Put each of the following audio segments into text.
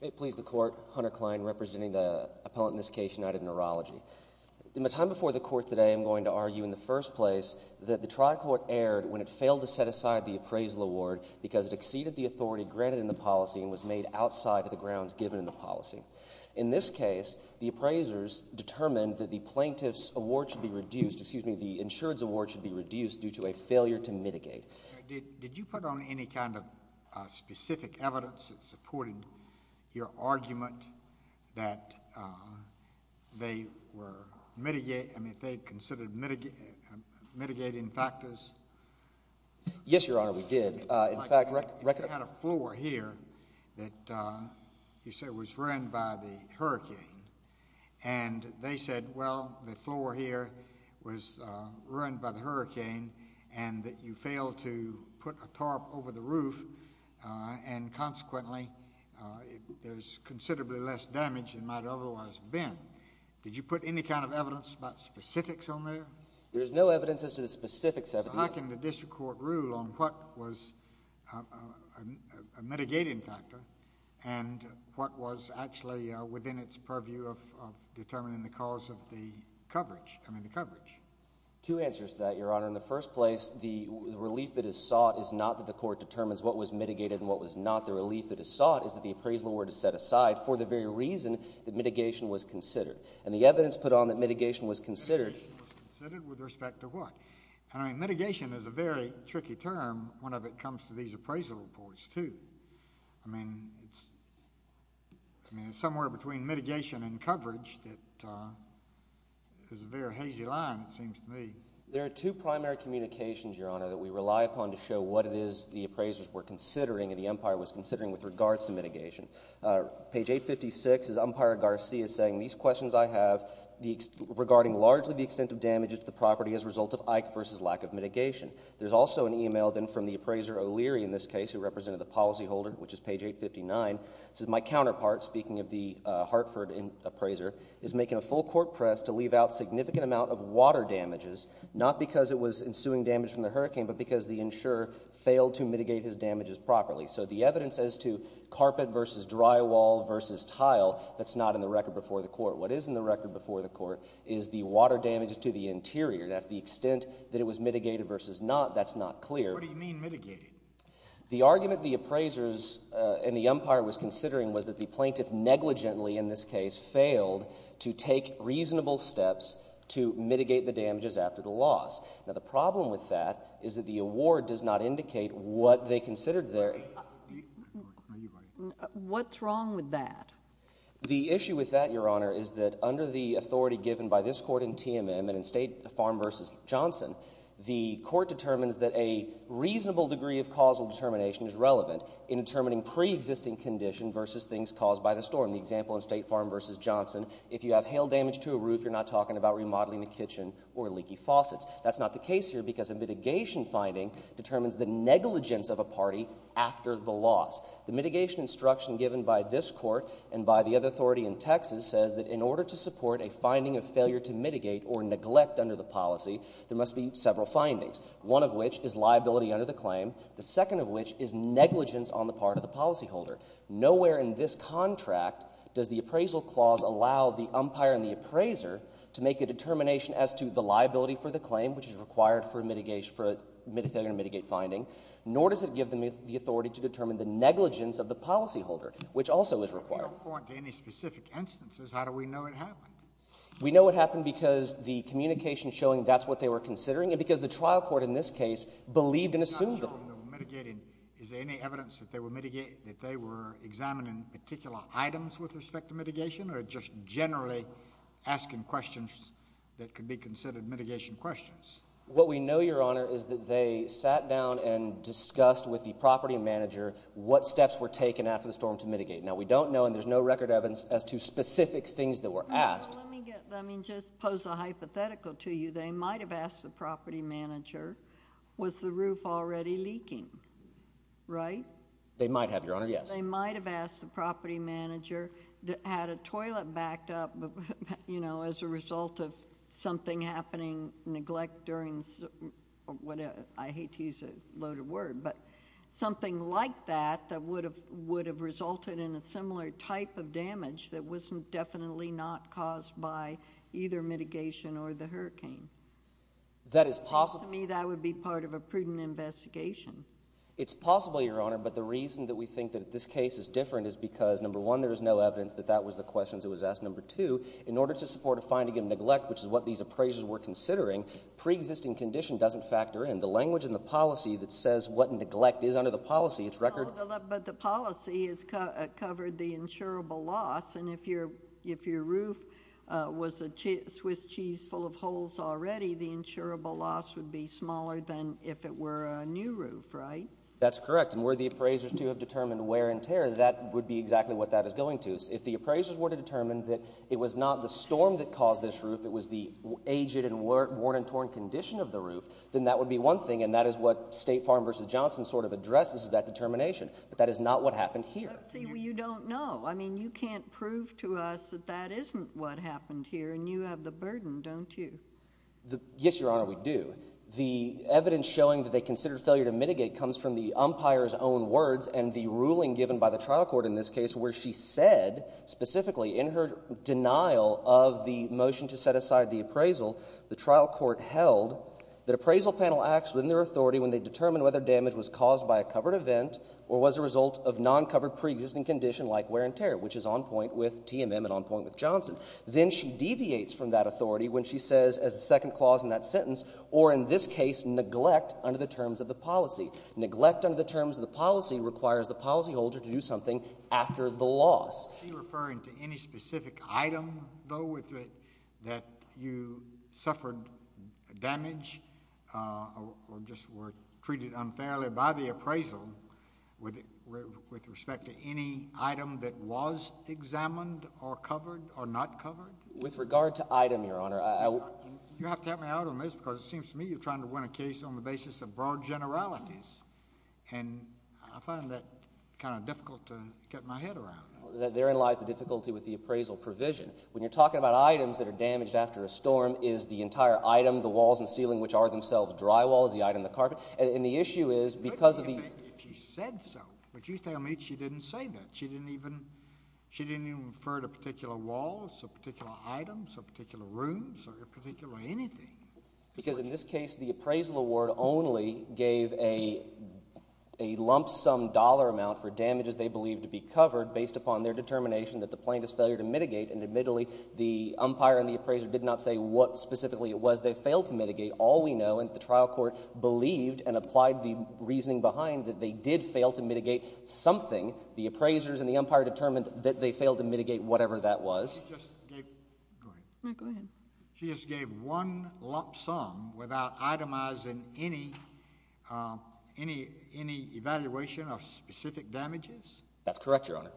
May it please the Court, Hunter Klein representing the appellant in this case, United Neurology. In the time before the Court today, I'm going to argue in the first place that the Tri-Court erred when it failed to set aside the appraisal award because it exceeded the authority granted in the policy and was made outside of the grounds given in the policy. In this case, the appraisers determined that the plaintiff's award should be reduced, excuse me, the insured's award should be reduced due to a failure to mitigate. Did you put on any kind of specific evidence that supported your argument that they were mitigating, I mean they considered mitigating factors? Yes, Your Honor, we did. You had a floor here that you said was ruined by the hurricane and they said, well, the floor here was ruined by the hurricane and that you failed to put a tarp over the roof and consequently there's considerably less damage than might have otherwise been. Did you put any kind of evidence about specifics on there? There's no evidence as to the specifics of it. Well, how can the District Court rule on what was a mitigating factor and what was actually within its purview of determining the cause of the coverage, I mean the coverage? Two answers to that, Your Honor. In the first place, the relief that is sought is not that the Court determines what was mitigated and what was not. The relief that is sought is that the appraisal award is set aside for the very reason that mitigation was considered. And the evidence put on that mitigation was considered— Mitigation was considered with respect to what? I mean mitigation is a very tricky term when it comes to these appraisal reports too. I mean it's somewhere between mitigation and coverage that is a very hazy line it seems to me. There are two primary communications, Your Honor, that we rely upon to show what it is the appraisers were considering and the umpire was considering with regards to mitigation. Page 856 is umpire Garcia saying, These questions I have regarding largely the extent of damages to the property as a result of Ike versus lack of mitigation. There's also an email then from the appraiser O'Leary in this case who represented the policyholder, which is page 859. It says, My counterpart, speaking of the Hartford appraiser, is making a full court press to leave out significant amount of water damages, not because it was ensuing damage from the hurricane, but because the insurer failed to mitigate his damages properly. So the evidence as to carpet versus drywall versus tile, that's not in the record before the court. What is in the record before the court is the water damages to the interior. And to the extent that it was mitigated versus not, that's not clear. What do you mean mitigate? The argument the appraisers and the umpire was considering was that the plaintiff negligently, in this case, failed to take reasonable steps to mitigate the damages after the loss. Now, the problem with that is that the award does not indicate what they considered their. What's wrong with that? The issue with that, Your Honor, is that under the authority given by this court in TMM and in State Farm versus Johnson, the court determines that a reasonable degree of causal determination is relevant in determining preexisting condition versus things caused by the storm. The example in State Farm versus Johnson, if you have hail damage to a roof, you're not talking about remodeling the kitchen or leaky faucets. That's not the case here because a mitigation finding determines the negligence of a party after the loss. The mitigation instruction given by this court and by the other authority in Texas says that in order to support a finding of failure to mitigate or neglect under the policy, there must be several findings, one of which is liability under the claim, the second of which is negligence on the part of the policyholder. Nowhere in this contract does the appraisal clause allow the umpire and the appraiser to make a determination as to the liability for the claim, which is required for a failure to mitigate finding, nor does it give them the authority to determine the negligence of the policyholder, which also is required. If you don't point to any specific instances, how do we know it happened? We know it happened because the communication showing that's what they were considering and because the trial court in this case believed and assumed that. Is there any evidence that they were examining particular items with respect to mitigation or just generally asking questions that could be considered mitigation questions? What we know, Your Honor, is that they sat down and discussed with the property manager what steps were taken after the storm to mitigate. Now, we don't know and there's no record evidence as to specific things that were asked. Let me just pose a hypothetical to you. They might have asked the property manager, was the roof already leaking, right? They might have, Your Honor, yes. They might have asked the property manager, had a toilet backed up as a result of something happening, neglect during, I hate to use a loaded word, but something like that that would have resulted in a similar type of damage that was definitely not caused by either mitigation or the hurricane. That is possible. To me, that would be part of a prudent investigation. It's possible, Your Honor, but the reason that we think that this case is different is because, number one, there is no evidence that that was the questions that was asked. Number two, in order to support a finding of neglect, which is what these appraisers were considering, preexisting condition doesn't factor in. The language in the policy that says what neglect is under the policy, it's record. But the policy has covered the insurable loss, and if your roof was a Swiss cheese full of holes already, the insurable loss would be smaller than if it were a new roof, right? That's correct, and where the appraisers, too, have determined wear and tear, that would be exactly what that is going to. If the appraisers were to determine that it was not the storm that caused this roof, it was the aged and worn and torn condition of the roof, then that would be one thing, and that is what State Farm v. Johnson sort of addresses as that determination, but that is not what happened here. But, see, you don't know. I mean, you can't prove to us that that isn't what happened here, and you have the burden, don't you? Yes, Your Honor, we do. The evidence showing that they considered failure to mitigate comes from the umpire's own words and the ruling given by the trial court in this case where she said, specifically, in her denial of the motion to set aside the appraisal, the trial court held that appraisal panel acts within their authority when they determine whether damage was caused by a covered event or was a result of non-covered pre-existing condition like wear and tear, which is on point with TMM and on point with Johnson. Then she deviates from that authority when she says, as the second clause in that sentence, or in this case, neglect under the terms of the policy. Neglect under the terms of the policy requires the policyholder to do something after the loss. Are you referring to any specific item, though, that you suffered damage or just were treated unfairly by the appraisal with respect to any item that was examined or covered or not covered? With regard to item, Your Honor, I— You have to help me out on this because it seems to me you're trying to win a case on the basis of broad generalities, and I find that kind of difficult to get my head around. Therein lies the difficulty with the appraisal provision. When you're talking about items that are damaged after a storm, is the entire item, the walls and ceiling, which are themselves drywall, is the item the carpet? And the issue is, because of the— I don't care if she said so, but you tell me she didn't say that. She didn't even refer to particular walls or particular items or particular rooms or particularly anything. Because in this case, the appraisal award only gave a lump sum dollar amount for damages they believed to be covered based upon their determination that the plaintiff's failure to mitigate. And admittedly, the umpire and the appraiser did not say what specifically it was they failed to mitigate. All we know is that the trial court believed and applied the reasoning behind that they did fail to mitigate something. The appraisers and the umpire determined that they failed to mitigate whatever that was. She just gave—go ahead. Go ahead. She just gave one lump sum without itemizing any evaluation of specific damages? That's correct, Your Honor.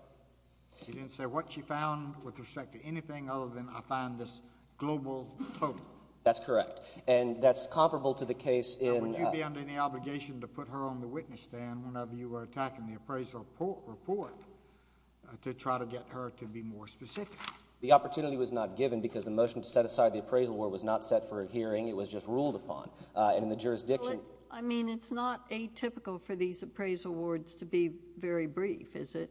She didn't say what she found with respect to anything other than I find this global total? That's correct. And that's comparable to the case in— Now, would you be under any obligation to put her on the witness stand whenever you were attacking the appraisal report to try to get her to be more specific? The opportunity was not given because the motion to set aside the appraisal award was not set for a hearing. It was just ruled upon. And in the jurisdiction— I mean, it's not atypical for these appraisal awards to be very brief, is it?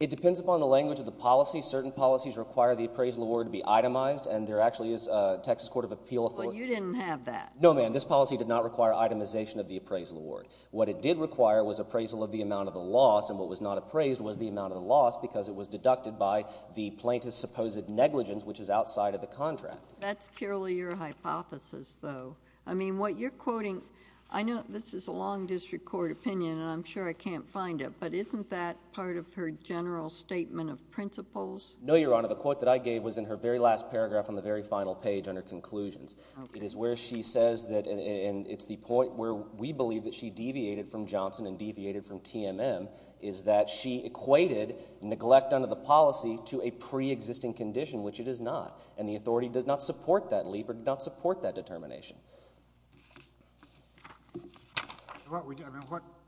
It depends upon the language of the policy. Certain policies require the appraisal award to be itemized, and there actually is a Texas Court of Appeal— Well, you didn't have that. No, ma'am. This policy did not require itemization of the appraisal award. What it did require was appraisal of the amount of the loss, and what was not appraised was the amount of the loss because it was deducted by the plaintiff's supposed negligence, which is outside of the contract. That's purely your hypothesis, though. I mean, what you're quoting—I know this is a long district court opinion, and I'm sure I can't find it, but isn't that part of her general statement of principles? No, Your Honor. The quote that I gave was in her very last paragraph on the very final page under conclusions. Okay. It is where she says that—and it's the point where we believe that she deviated from Johnson and deviated from TMM—is that she equated neglect under the policy to a preexisting condition, which it is not. And the authority does not support that leap or does not support that determination.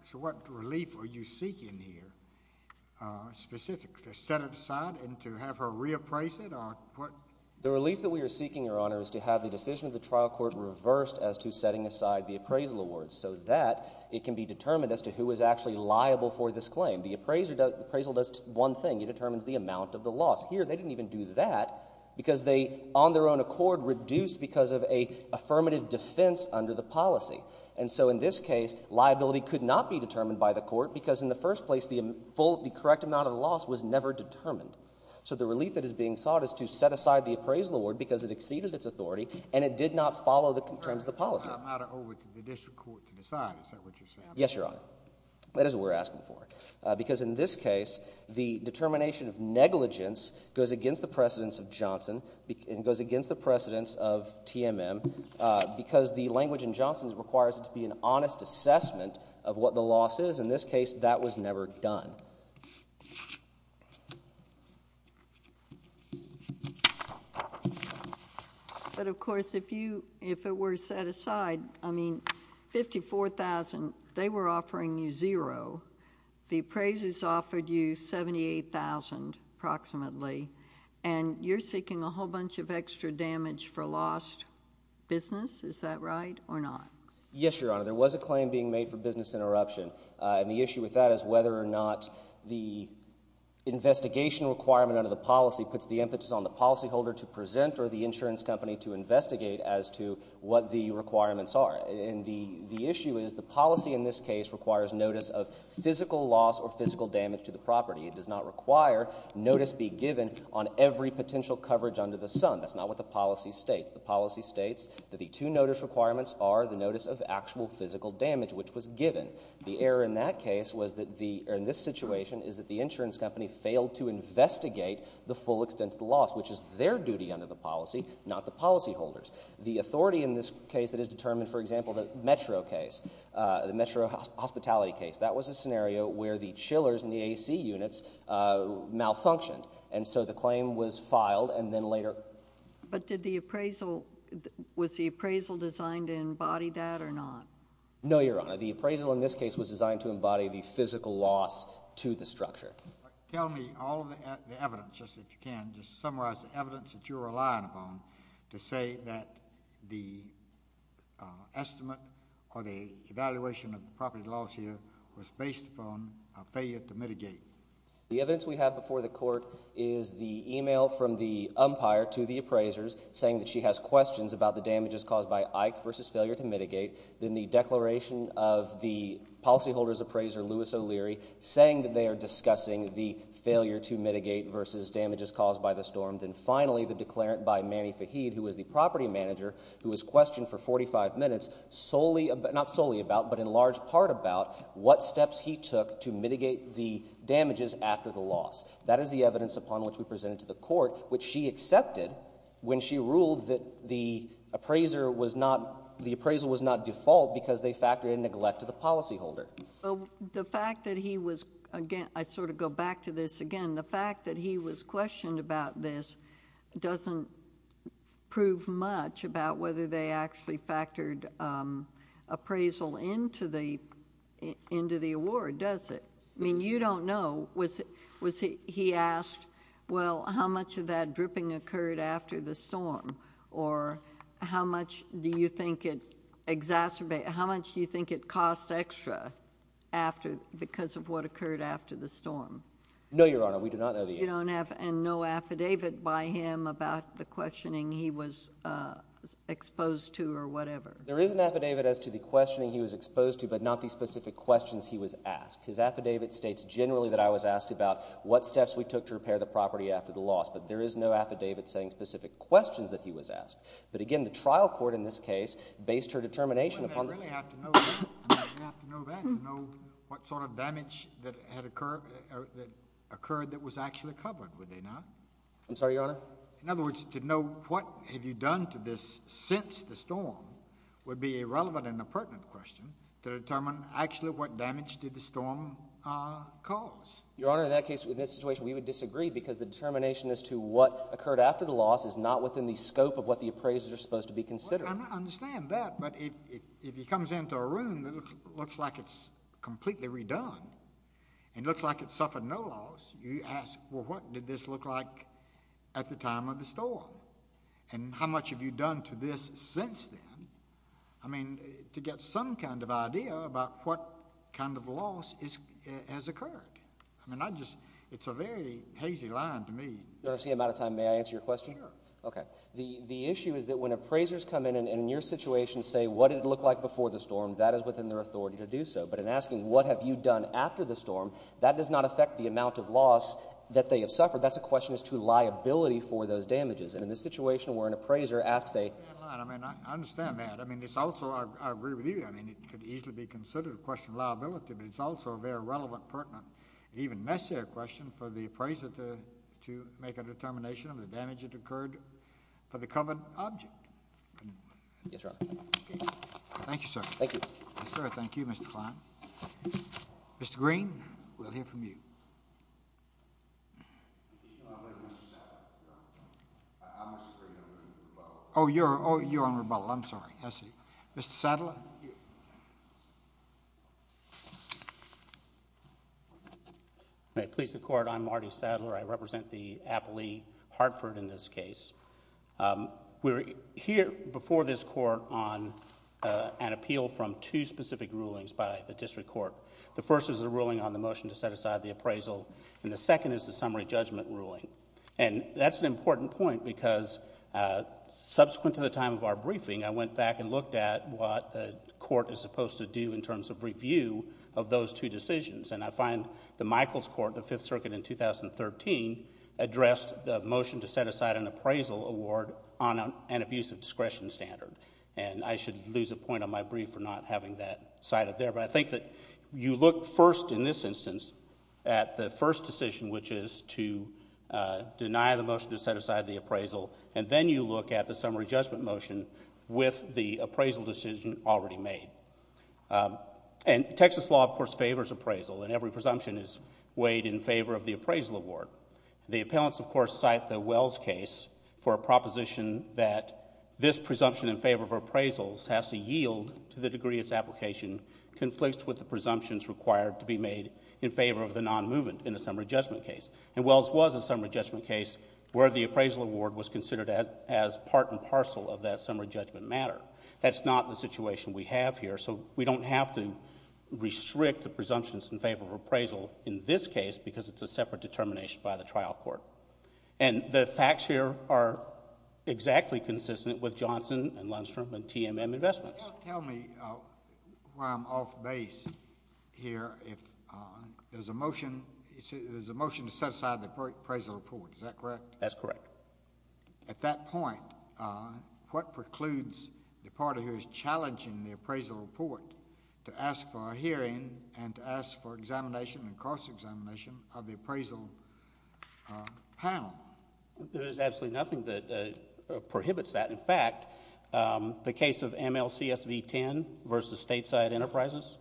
So what relief are you seeking here specifically, to set it aside and to have her reappraise it? The relief that we are seeking, Your Honor, is to have the decision of the trial court reversed as to setting aside the appraisal award so that it can be determined as to who is actually liable for this claim. The appraisal does one thing. It determines the amount of the loss. Here, they didn't even do that because they, on their own accord, reduced because of an affirmative defense under the policy. And so in this case, liability could not be determined by the court because in the first place the correct amount of the loss was never determined. So the relief that is being sought is to set aside the appraisal award because it exceeded its authority and it did not follow the terms of the policy. I'm going to turn the matter over to the district court to decide. Is that what you're saying? Yes, Your Honor. That is what we're asking for. Because in this case, the determination of negligence goes against the precedence of Johnson and goes against the precedence of TMM because the language in Johnson requires it to be an honest assessment of what the loss is. In this case, that was never done. But, of course, if it were set aside, I mean, $54,000, they were offering you zero. The appraisers offered you $78,000 approximately. And you're seeking a whole bunch of extra damage for lost business. Is that right or not? Yes, Your Honor. There was a claim being made for business interruption. And the issue with that is whether or not the investigation requirement under the policy puts the impetus on the policyholder to present or the insurance company to investigate as to what the requirements are. And the issue is the policy in this case requires notice of physical loss or physical damage to the property. It does not require notice be given on every potential coverage under the sun. That's not what the policy states. The policy states that the two notice requirements are the notice of actual physical damage, which was given. The error in that case was that the — or in this situation is that the insurance company failed to investigate the full extent of the loss, which is their duty under the policy, not the policyholders. The authority in this case that is determined, for example, the Metro case, the Metro hospitality case, that was a scenario where the chillers in the AC units malfunctioned. And so the claim was filed and then later— But did the appraisal — was the appraisal designed to embody that or not? No, Your Honor. The appraisal in this case was designed to embody the physical loss to the structure. Tell me all of the evidence, just if you can, just to summarize the evidence that you're relying upon to say that the estimate or the evaluation of the property loss here was based upon a failure to mitigate. The evidence we have before the court is the email from the umpire to the appraisers saying that she has questions about the damages caused by Ike versus failure to mitigate. Then the declaration of the policyholders' appraiser, Louis O'Leary, saying that they are discussing the failure to mitigate versus damages caused by the storm. And then finally, the declarant by Manny Faheed, who was the property manager, who was questioned for 45 minutes solely—not solely about, but in large part about what steps he took to mitigate the damages after the loss. That is the evidence upon which we presented to the court, which she accepted when she ruled that the appraiser was not—the appraisal was not default because they factored in neglect to the policyholder. The fact that he was—I sort of go back to this again—the fact that he was questioned about this doesn't prove much about whether they actually factored appraisal into the award, does it? I mean, you don't know. Was he asked, well, how much of that dripping occurred after the storm, or how much do you think it exacerbated—how much do you think it cost extra after—because of what occurred after the storm? No, Your Honor. We do not know the answer. You don't have—and no affidavit by him about the questioning he was exposed to or whatever? There is an affidavit as to the questioning he was exposed to, but not the specific questions he was asked. His affidavit states generally that I was asked about what steps we took to repair the property after the loss, but there is no affidavit saying specific questions that he was asked. But again, the trial court in this case based her determination upon— Wouldn't they really have to know that to know what sort of damage that had occurred—that occurred that was actually covered, would they not? I'm sorry, Your Honor? In other words, to know what have you done to this since the storm would be irrelevant and a pertinent question to determine actually what damage did the storm cause. Your Honor, in that case, in this situation, we would disagree because the determination as to what occurred after the loss is not within the scope of what the appraisers are supposed to be considering. I understand that, but if he comes into a room that looks like it's completely redone and looks like it suffered no loss, you ask, well, what did this look like at the time of the storm? And how much have you done to this since then? I mean, to get some kind of idea about what kind of loss has occurred. I mean, I just—it's a very hazy line to me. Your Honor, I see I'm out of time. May I answer your question? Sure. Okay. The issue is that when appraisers come in and in your situation say what did it look like before the storm, that is within their authority to do so. But in asking what have you done after the storm, that does not affect the amount of loss that they have suffered. That's a question as to liability for those damages. And in this situation where an appraiser asks a— I understand that. I mean, it's also—I agree with you. I mean, it could easily be considered a question of liability, but it's also a very relevant, pertinent, even necessary question for the appraiser to make a determination of the damage that occurred. There are many, many things in this case that she could have done differently, and I'd like to see her answer that question. Your Honor, I do not have the right to use the word for the covered object. Yes, Your Honor. Okay. Thank you, sir. Thank you. Yes, sir. Thank you, Mr. Kline. Mr. Green, we'll hear from you. I'm with Mr. Sadler. I'm Mr. Green. I'm going to use rebuttal. Oh, you're on rebuttal. I'm sorry. I see. Mr. Sadler? May it please the Court, I'm Marty Sadler. I represent the appellee, Hartford, in this case. We're here before this Court on an appeal from two specific rulings by the District Court. The first is the ruling on the motion to set aside the appraisal, and the second is the summary judgment ruling, and that's an important point because subsequent to the time of our briefing, I went back and looked at what the Court is supposed to do in terms of review of those two decisions, and I find the Michaels Court, the Fifth Circuit in 2013, addressed the motion to set aside an appraisal award on an abusive discretion standard, and I should lose a point on my brief for not having that cited there, but I think that you look first in this instance at the first decision, which is to deny the motion to set aside the appraisal, and then you look at the summary judgment motion with the appraisal decision already made. And Texas law, of course, favors appraisal, and every presumption is weighed in favor of the appraisal award. The appellants, of course, cite the Wells case for a proposition that this presumption in favor of appraisals has to yield to the degree its application conflicts with the presumptions required to be made in favor of the nonmovement in a summary judgment case. And Wells was a summary judgment case where the appraisal award was considered as part and parcel of that summary judgment matter. That's not the situation we have here, so we don't have to restrict the presumptions in favor of appraisal in this case because it's a separate determination by the trial court. And the facts here are exactly consistent with Johnson and Lundstrom and TMM Investments. Tell me why I'm off base here. There's a motion to set aside the appraisal report. Is that correct? That's correct. At that point, what precludes the party who is challenging the appraisal report to ask for a hearing and to ask for examination and cross-examination of the appraisal panel? There is absolutely nothing that prohibits that. In fact, the case of MLCSV 10 versus Stateside Enterprises,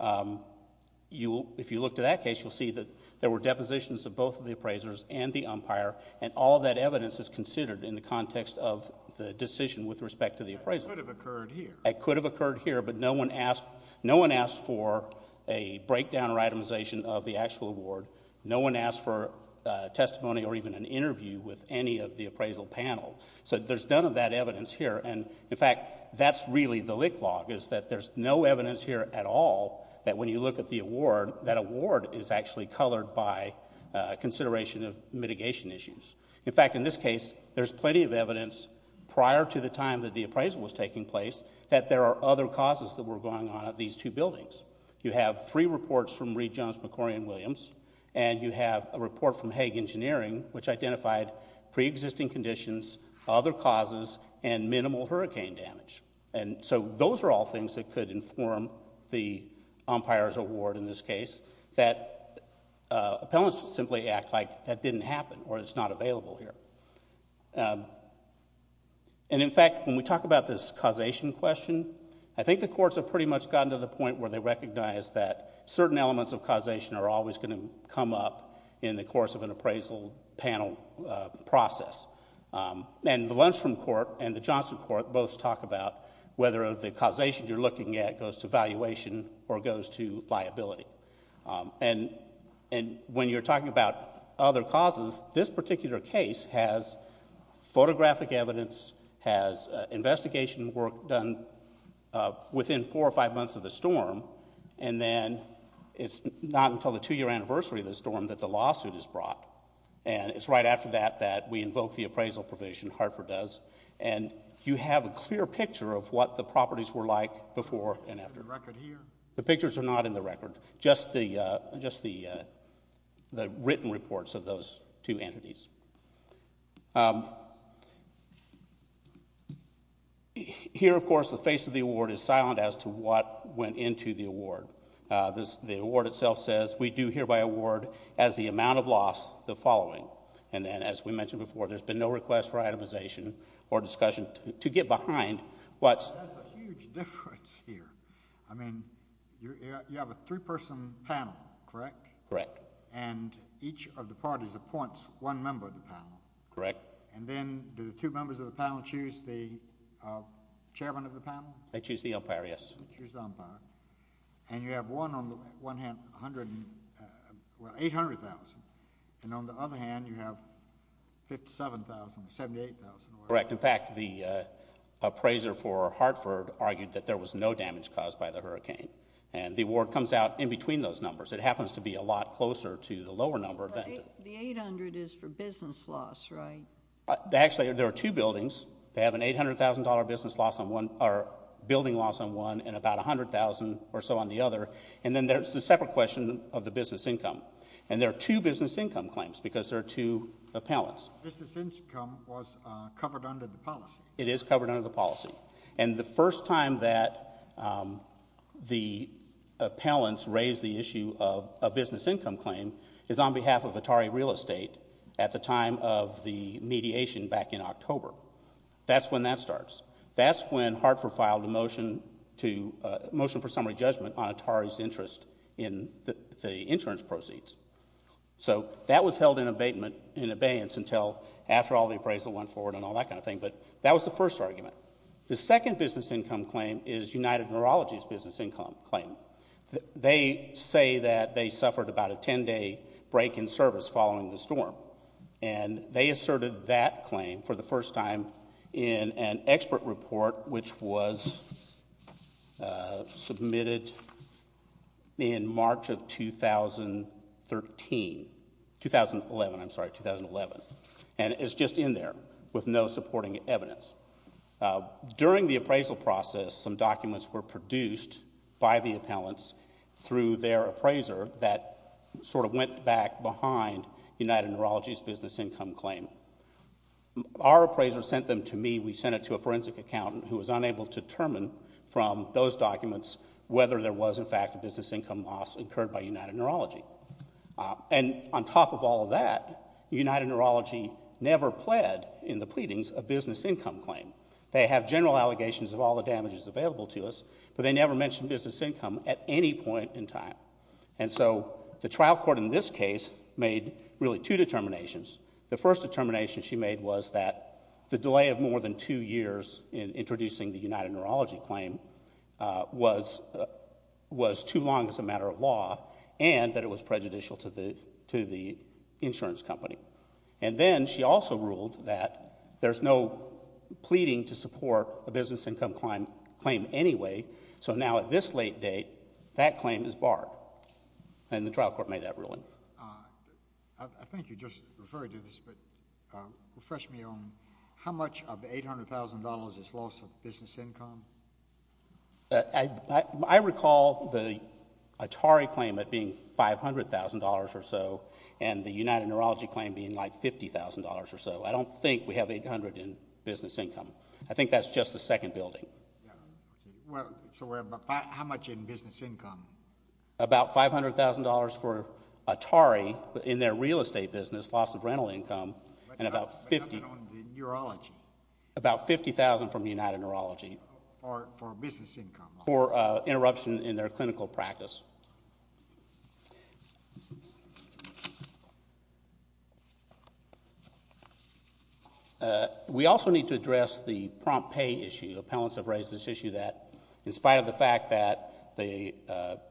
if you look to that case, you'll see that there were depositions of both of the appraisers and the umpire, and all of that evidence is considered in the context of the decision with respect to the appraisal. That could have occurred here. But no one asked for a breakdown or itemization of the actual award. No one asked for testimony or even an interview with any of the appraisal panel. So there's none of that evidence here. And, in fact, that's really the lick log is that there's no evidence here at all that when you look at the award, that award is actually colored by consideration of mitigation issues. In fact, in this case, there's plenty of evidence prior to the time that the appraisal was taking place that there are other causes that were going on at these two buildings. You have three reports from Reed, Jones, McCorry, and Williams, and you have a report from Hague Engineering which identified pre-existing conditions, other causes, and minimal hurricane damage. And so those are all things that could inform the umpire's award in this case, that appellants simply act like that didn't happen or it's not available here. And, in fact, when we talk about this causation question, I think the courts have pretty much gotten to the point where they recognize that certain elements of causation are always going to come up in the course of an appraisal panel process. And the Lundstrom Court and the Johnson Court both talk about whether the causation you're looking at goes to valuation or goes to liability. And when you're talking about other causes, this particular case has photographic evidence, has investigation work done within four or five months of the storm, and then it's not until the two-year anniversary of the storm that the lawsuit is brought. And it's right after that that we invoke the appraisal provision, Hartford does, and you have a clear picture of what the properties were like before and after. The pictures are not in the record, just the written reports of those two entities. Here, of course, the face of the award is silent as to what went into the award. The award itself says, we do hereby award, as the amount of loss, the following. And then, as we mentioned before, there's been no request for itemization or discussion to get behind what's... That's a huge difference here. I mean, you have a three-person panel, correct? Correct. And each of the parties appoints one member of the panel? Correct. And then do the two members of the panel choose the chairman of the panel? They choose the umpire, yes. They choose the umpire. And you have one on the one hand, 800,000, and on the other hand, you have 57,000, 78,000. Correct. In fact, the appraiser for Hartford argued that there was no damage caused by the hurricane. And the award comes out in between those numbers. It happens to be a lot closer to the lower number. The 800 is for business loss, right? Actually, there are two buildings. They have an 800,000-dollar building loss on one and about 100,000 or so on the other. And then there's the separate question of the business income. And there are two business income claims because there are two appellants. The business income was covered under the policy. It is covered under the policy. And the first time that the appellants raised the issue of a business income claim is on behalf of Atari Real Estate at the time of the mediation back in October. That's when that starts. That's when Hartford filed a motion for summary judgment on Atari's interest in the insurance proceeds. So that was held in abeyance until after all the appraisal went forward and all that kind of thing. But that was the first argument. The second business income claim is United Neurology's business income claim. They say that they suffered about a 10-day break in service following the storm. And they asserted that claim for the first time in an expert report which was submitted in March of 2013. 2011, I'm sorry, 2011. And it's just in there with no supporting evidence. During the appraisal process, some documents were produced by the appellants through their appraiser that sort of went back behind United Neurology's business income claim. Our appraiser sent them to me. We sent it to a forensic accountant who was unable to determine from those documents whether there was, in fact, a business income loss incurred by United Neurology. And on top of all of that, United Neurology never pled in the pleadings a business income claim. They have general allegations of all the damages available to us, but they never mentioned business income at any point in time. And so the trial court in this case made really two determinations. The first determination she made was that the delay of more than two years in introducing the United Neurology claim was too long as a matter of law and that it was prejudicial to the insurance company. And then she also ruled that there's no pleading to support a business income claim anyway. So now at this late date, that claim is barred. I think you just referred to this, but refresh me on how much of the $800,000 is loss of business income? I recall the Atari claim being $500,000 or so and the United Neurology claim being like $50,000 or so. I don't think we have $800,000 in business income. I think that's just the second building. So how much in business income? About $500,000 for Atari in their real estate business, loss of rental income, and about $50,000 from the United Neurology for interruption in their clinical practice. We also need to address the prompt pay issue. Appellants have raised this issue that in spite of the fact that the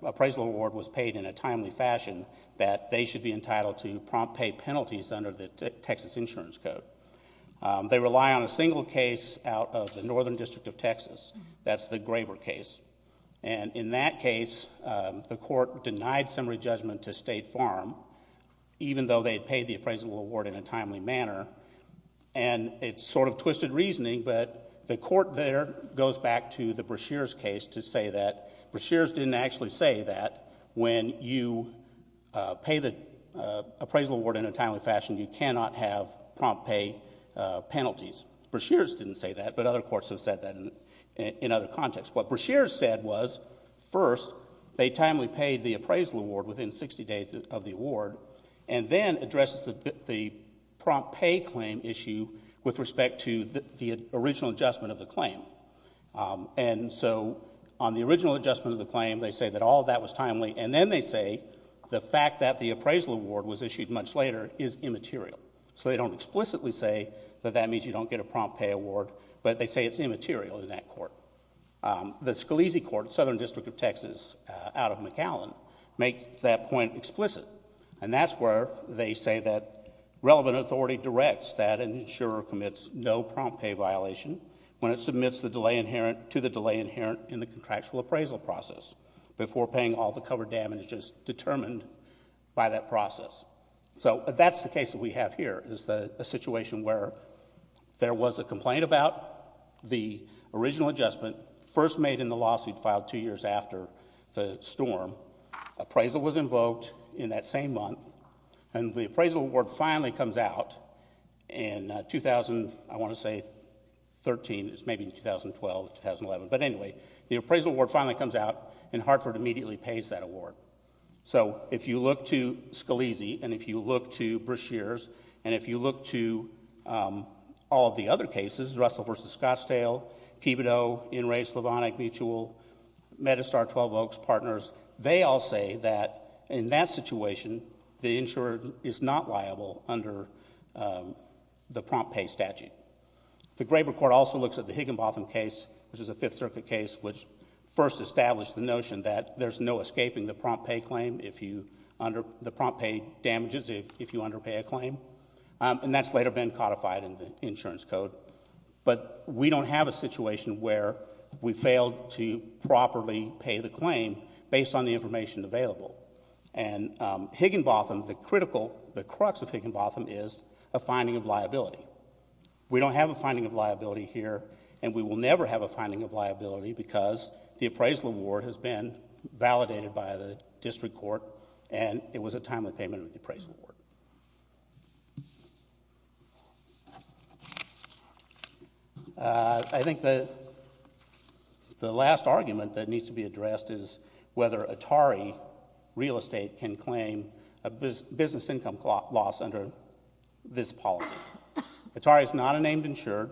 appraisal award was paid in a timely fashion, that they should be entitled to prompt pay penalties under the Texas Insurance Code. They rely on a single case out of the Northern District of Texas. That's the Graber case. And in that case, the court denied summary judgment to State Farm, even though they had paid the appraisal award in a timely manner. And it's sort of twisted reasoning, but the court there goes back to the Breshears case to say that Breshears didn't actually say that when you pay the appraisal award in a timely fashion, you cannot have prompt pay penalties. Breshears didn't say that, but other courts have said that in other contexts. What Breshears said was, first, they timely paid the appraisal award within 60 days of the award, and then addressed the prompt pay claim issue with respect to the original adjustment of the claim. And so on the original adjustment of the claim, they say that all of that was timely, and then they say the fact that the appraisal award was issued much later is immaterial. So they don't explicitly say that that means you don't get a prompt pay award, but they say it's immaterial in that court. The Scalise Court, Southern District of Texas, out of McAllen, make that point explicit. And that's where they say that relevant authority directs that an insurer commits no prompt pay violation when it submits the delay inherent to the delay inherent in the contractual appraisal process, before paying all the covered damages determined by that process. So that's the case that we have here, is a situation where there was a complaint about the original adjustment first made in the lawsuit filed two years after the storm. Appraisal was invoked in that same month, and the appraisal award finally comes out in 2000, I want to say, 13, maybe 2012, 2011. But anyway, the appraisal award finally comes out, and Hartford immediately pays that award. So if you look to Scalise, and if you look to Brashears, and if you look to all of the other cases, Russell v. Scottsdale, Kibitow, In re, Slavonic, Mutual, Medistar, 12 Oaks, Partners, they all say that in that situation, the insurer is not liable under the prompt pay statute. The Graber Court also looks at the Higginbotham case, which is a Fifth Circuit case, which first established the notion that there's no escaping the prompt pay claim if you, the prompt pay damages if you underpay a claim. And that's later been codified in the insurance code. But we don't have a situation where we failed to properly pay the claim based on the information available. And Higginbotham, the critical, the crux of Higginbotham is a finding of liability. We don't have a finding of liability here, and we will never have a finding of liability because the appraisal award has been validated by the district court, and it was a timely payment of the appraisal award. I think the last argument that needs to be addressed is whether Atari Real Estate can claim a business income loss under this policy. Atari is not a named insured,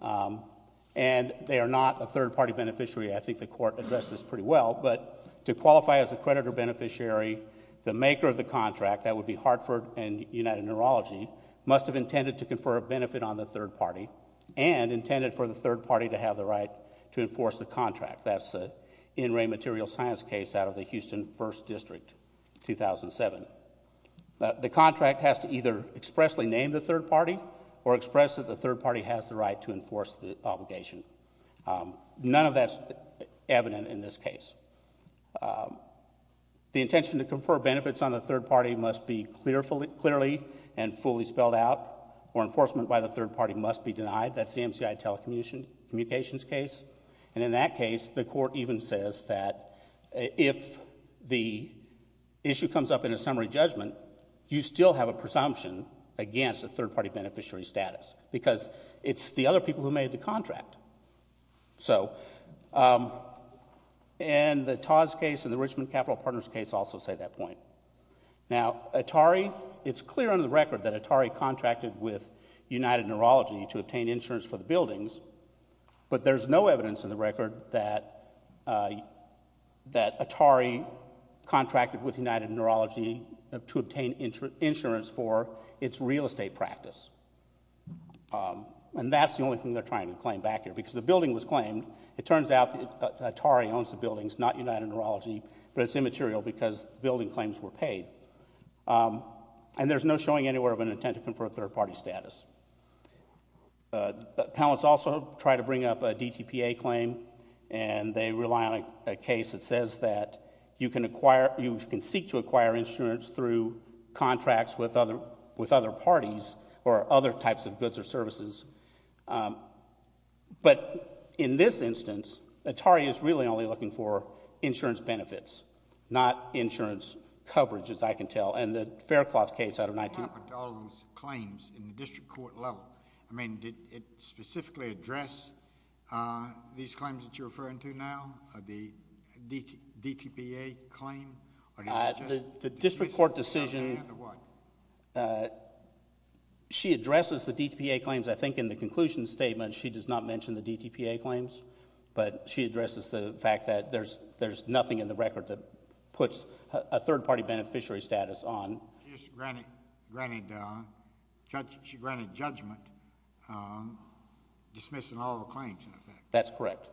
and they are not a third-party beneficiary. I think the court addressed this pretty well, but to qualify as a creditor beneficiary, the maker of the contract, that would be Hartford and United Neurology, must have intended to confer a benefit on the third-party and intended for the third-party to have the right to enforce the contract. That's an in-ray material science case out of the Houston First District, 2007. The contract has to either expressly name the third-party or express that the third-party has the right to enforce the obligation. None of that's evident in this case. The intention to confer benefits on the third-party must be clearly and fully spelled out, or enforcement by the third-party must be denied. That's the MCI telecommunications case, and in that case, the court even says that if the issue comes up in a summary judgment, you still have a presumption against a third-party beneficiary status because it's the other people who made the contract. The Todd's case and the Richmond Capital Partners case also say that point. Now, Atari, it's clear under the record that Atari contracted with United Neurology to obtain insurance for the buildings, but there's no evidence in the record that Atari contracted with United Neurology to obtain insurance for its real estate practice. And that's the only thing they're trying to claim back here because the building was claimed. It turns out that Atari owns the buildings, not United Neurology, but it's immaterial because the building claims were paid. And there's no showing anywhere of an intent to confer third-party status. Appellants also try to bring up a DTPA claim, and they rely on a case that says that you can acquire, you can seek to acquire insurance through contracts with other parties or other types of goods or services. But in this instance, Atari is really only looking for insurance benefits, not insurance coverage, as I can tell. What happened to all those claims in the district court level? I mean did it specifically address these claims that you're referring to now, the DTPA claim? The district court decision, she addresses the DTPA claims, I think, in the conclusion statement. She does not mention the DTPA claims, but she addresses the fact that there's nothing in the record that puts a third-party beneficiary status on. She granted judgment dismissing all the claims in effect. That's correct.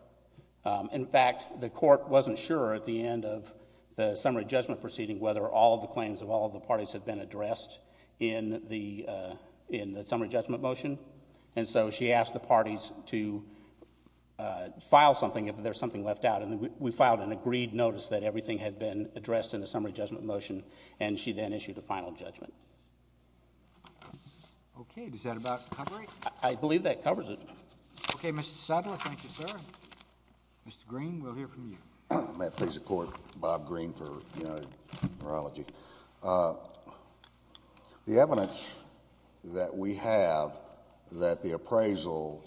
In fact, the court wasn't sure at the end of the summary judgment proceeding whether all of the claims of all of the parties had been addressed in the summary judgment motion. And so she asked the parties to file something if there's something left out. And we filed an agreed notice that everything had been addressed in the summary judgment motion, and she then issued a final judgment. Okay. Is that about covering it? I believe that covers it. Okay. Mr. Sadler, thank you, sir. Mr. Green, we'll hear from you. May I please support Bob Green for neurology? The evidence that we have that the appraisal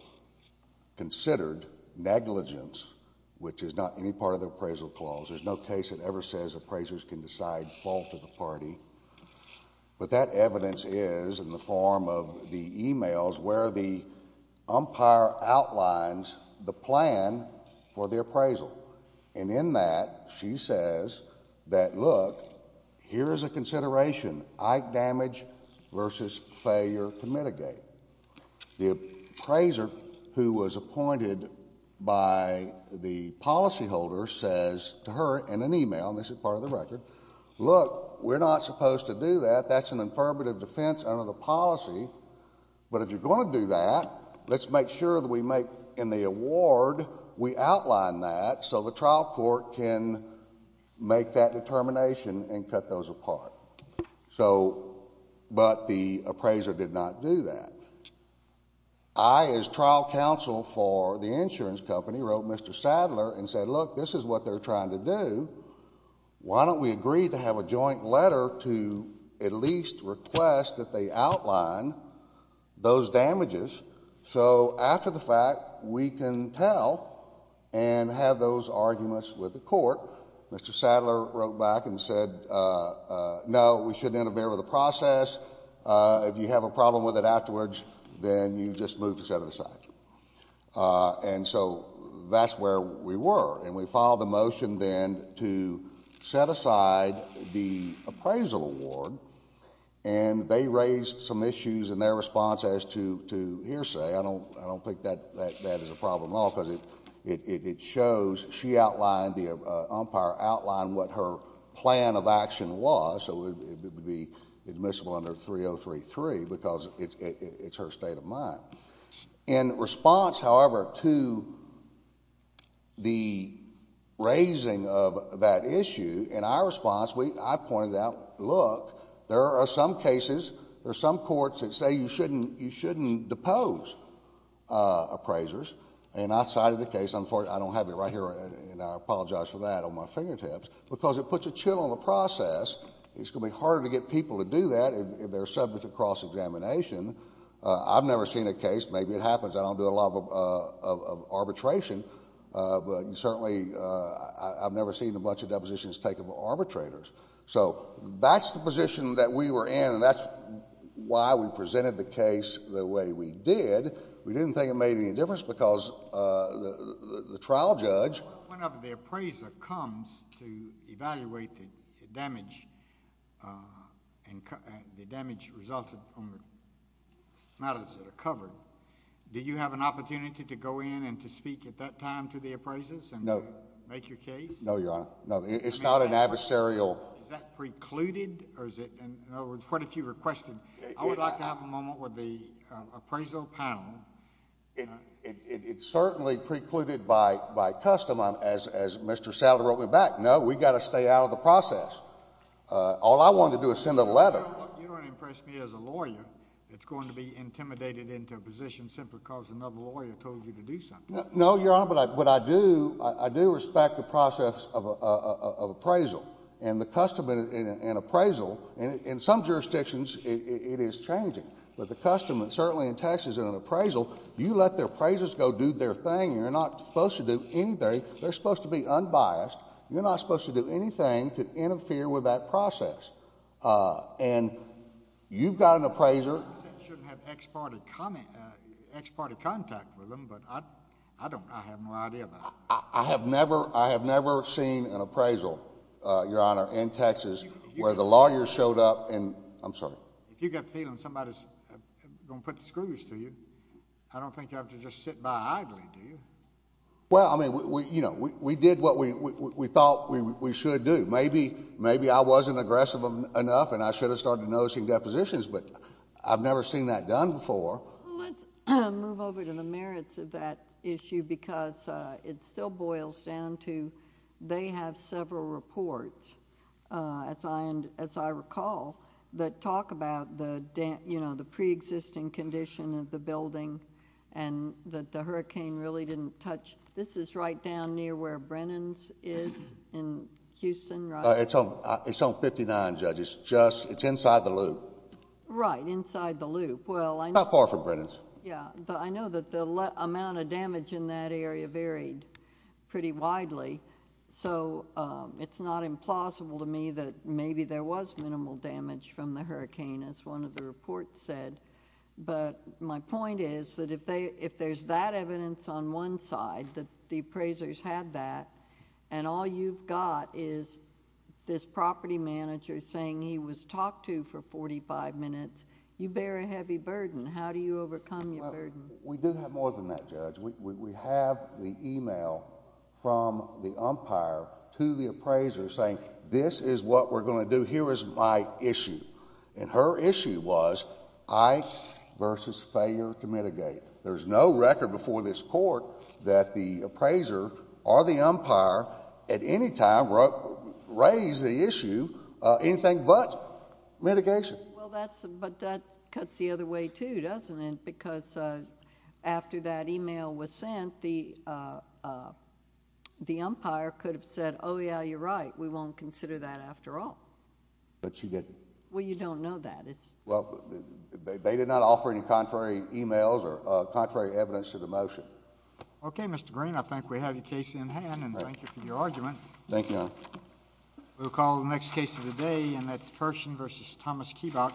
considered negligence, which is not any part of the appraisal clause, there's no case that ever says appraisers can decide fault of the party. But that evidence is in the form of the e-mails where the umpire outlines the plan for the appraisal. And in that, she says that, look, here's a consideration. Ike damage versus failure to mitigate. The appraiser who was appointed by the policyholder says to her in an e-mail, and this is part of the record, look, we're not supposed to do that. That's an affirmative defense under the policy. But if you're going to do that, let's make sure that we make, in the award, we outline that so the trial court can make that determination and cut those apart. But the appraiser did not do that. I, as trial counsel for the insurance company, wrote Mr. Sadler and said, look, this is what they're trying to do. Why don't we agree to have a joint letter to at least request that they outline those damages so after the fact, we can tell and have those arguments with the court. Mr. Sadler wrote back and said, no, we shouldn't interfere with the process. If you have a problem with it afterwards, then you just move to the other side. And so that's where we were. And we filed a motion then to set aside the appraisal award, and they raised some issues in their response as to hearsay. I don't think that is a problem at all because it shows she outlined, the umpire outlined what her plan of action was. So it would be admissible under 3033 because it's her state of mind. In response, however, to the raising of that issue, in our response, I pointed out, look, there are some cases, there are some courts that say you shouldn't depose appraisers. And I cited the case. I don't have it right here, and I apologize for that on my fingertips, because it puts a chill on the process. It's going to be harder to get people to do that if they're subject to cross-examination. I've never seen a case. Maybe it happens. I don't do a lot of arbitration, but certainly I've never seen a bunch of depositions taken by arbitrators. So that's the position that we were in, and that's why we presented the case the way we did. We didn't think it made any difference because the trial judge— Now that it's covered, do you have an opportunity to go in and to speak at that time to the appraisers and make your case? No, Your Honor. No, it's not an adversarial— Is that precluded, or is it—in other words, what if you requested—I would like to have a moment with the appraisal panel. It's certainly precluded by custom, as Mr. Salazar wrote me back. No, we've got to stay out of the process. All I want to do is send a letter. You don't impress me as a lawyer that's going to be intimidated into a position simply because another lawyer told you to do something. No, Your Honor, but I do respect the process of appraisal, and the custom in appraisal—in some jurisdictions, it is changing. But the custom, and certainly in Texas, in an appraisal, you let the appraisers go do their thing. You're not supposed to do anything. They're supposed to be unbiased. You're not supposed to do anything to interfere with that process. And you've got an appraiser— You said you shouldn't have ex-party contact with them, but I don't—I have no idea about that. I have never—I have never seen an appraisal, Your Honor, in Texas where the lawyer showed up and—I'm sorry. If you get the feeling somebody's going to put the screws through you, I don't think you have to just sit by idly, do you? Well, I mean, you know, we did what we thought we should do. Maybe I wasn't aggressive enough, and I should have started noticing depositions, but I've never seen that done before. Let's move over to the merits of that issue because it still boils down to they have several reports, as I recall, that talk about the preexisting condition of the building and that the hurricane really didn't touch. This is right down near where Brennan's is in Houston, right? It's on 59, Judge. It's inside the loop. Right, inside the loop. Not far from Brennan's. Yeah, but I know that the amount of damage in that area varied pretty widely, so it's not implausible to me that maybe there was minimal damage from the hurricane, as one of the reports said. My point is that if there's that evidence on one side, that the appraisers had that, and all you've got is this property manager saying he was talked to for forty-five minutes, you bear a heavy burden. How do you overcome your burden? We do have more than that, Judge. We have the email from the umpire to the appraiser saying, this is what we're going to do, here is my issue. And her issue was I versus failure to mitigate. There's no record before this court that the appraiser or the umpire at any time raised the issue anything but mitigation. Well, but that cuts the other way, too, doesn't it? Because after that email was sent, the umpire could have said, oh, yeah, you're right, we won't consider that after all. But she didn't. Well, you don't know that. Well, they did not offer any contrary emails or contrary evidence to the motion. Okay, Mr. Green, I think we have your case in hand, and thank you for your argument. Thank you, Your Honor. We'll call the next case of the day, and that's Pershing versus Thomas Keebock.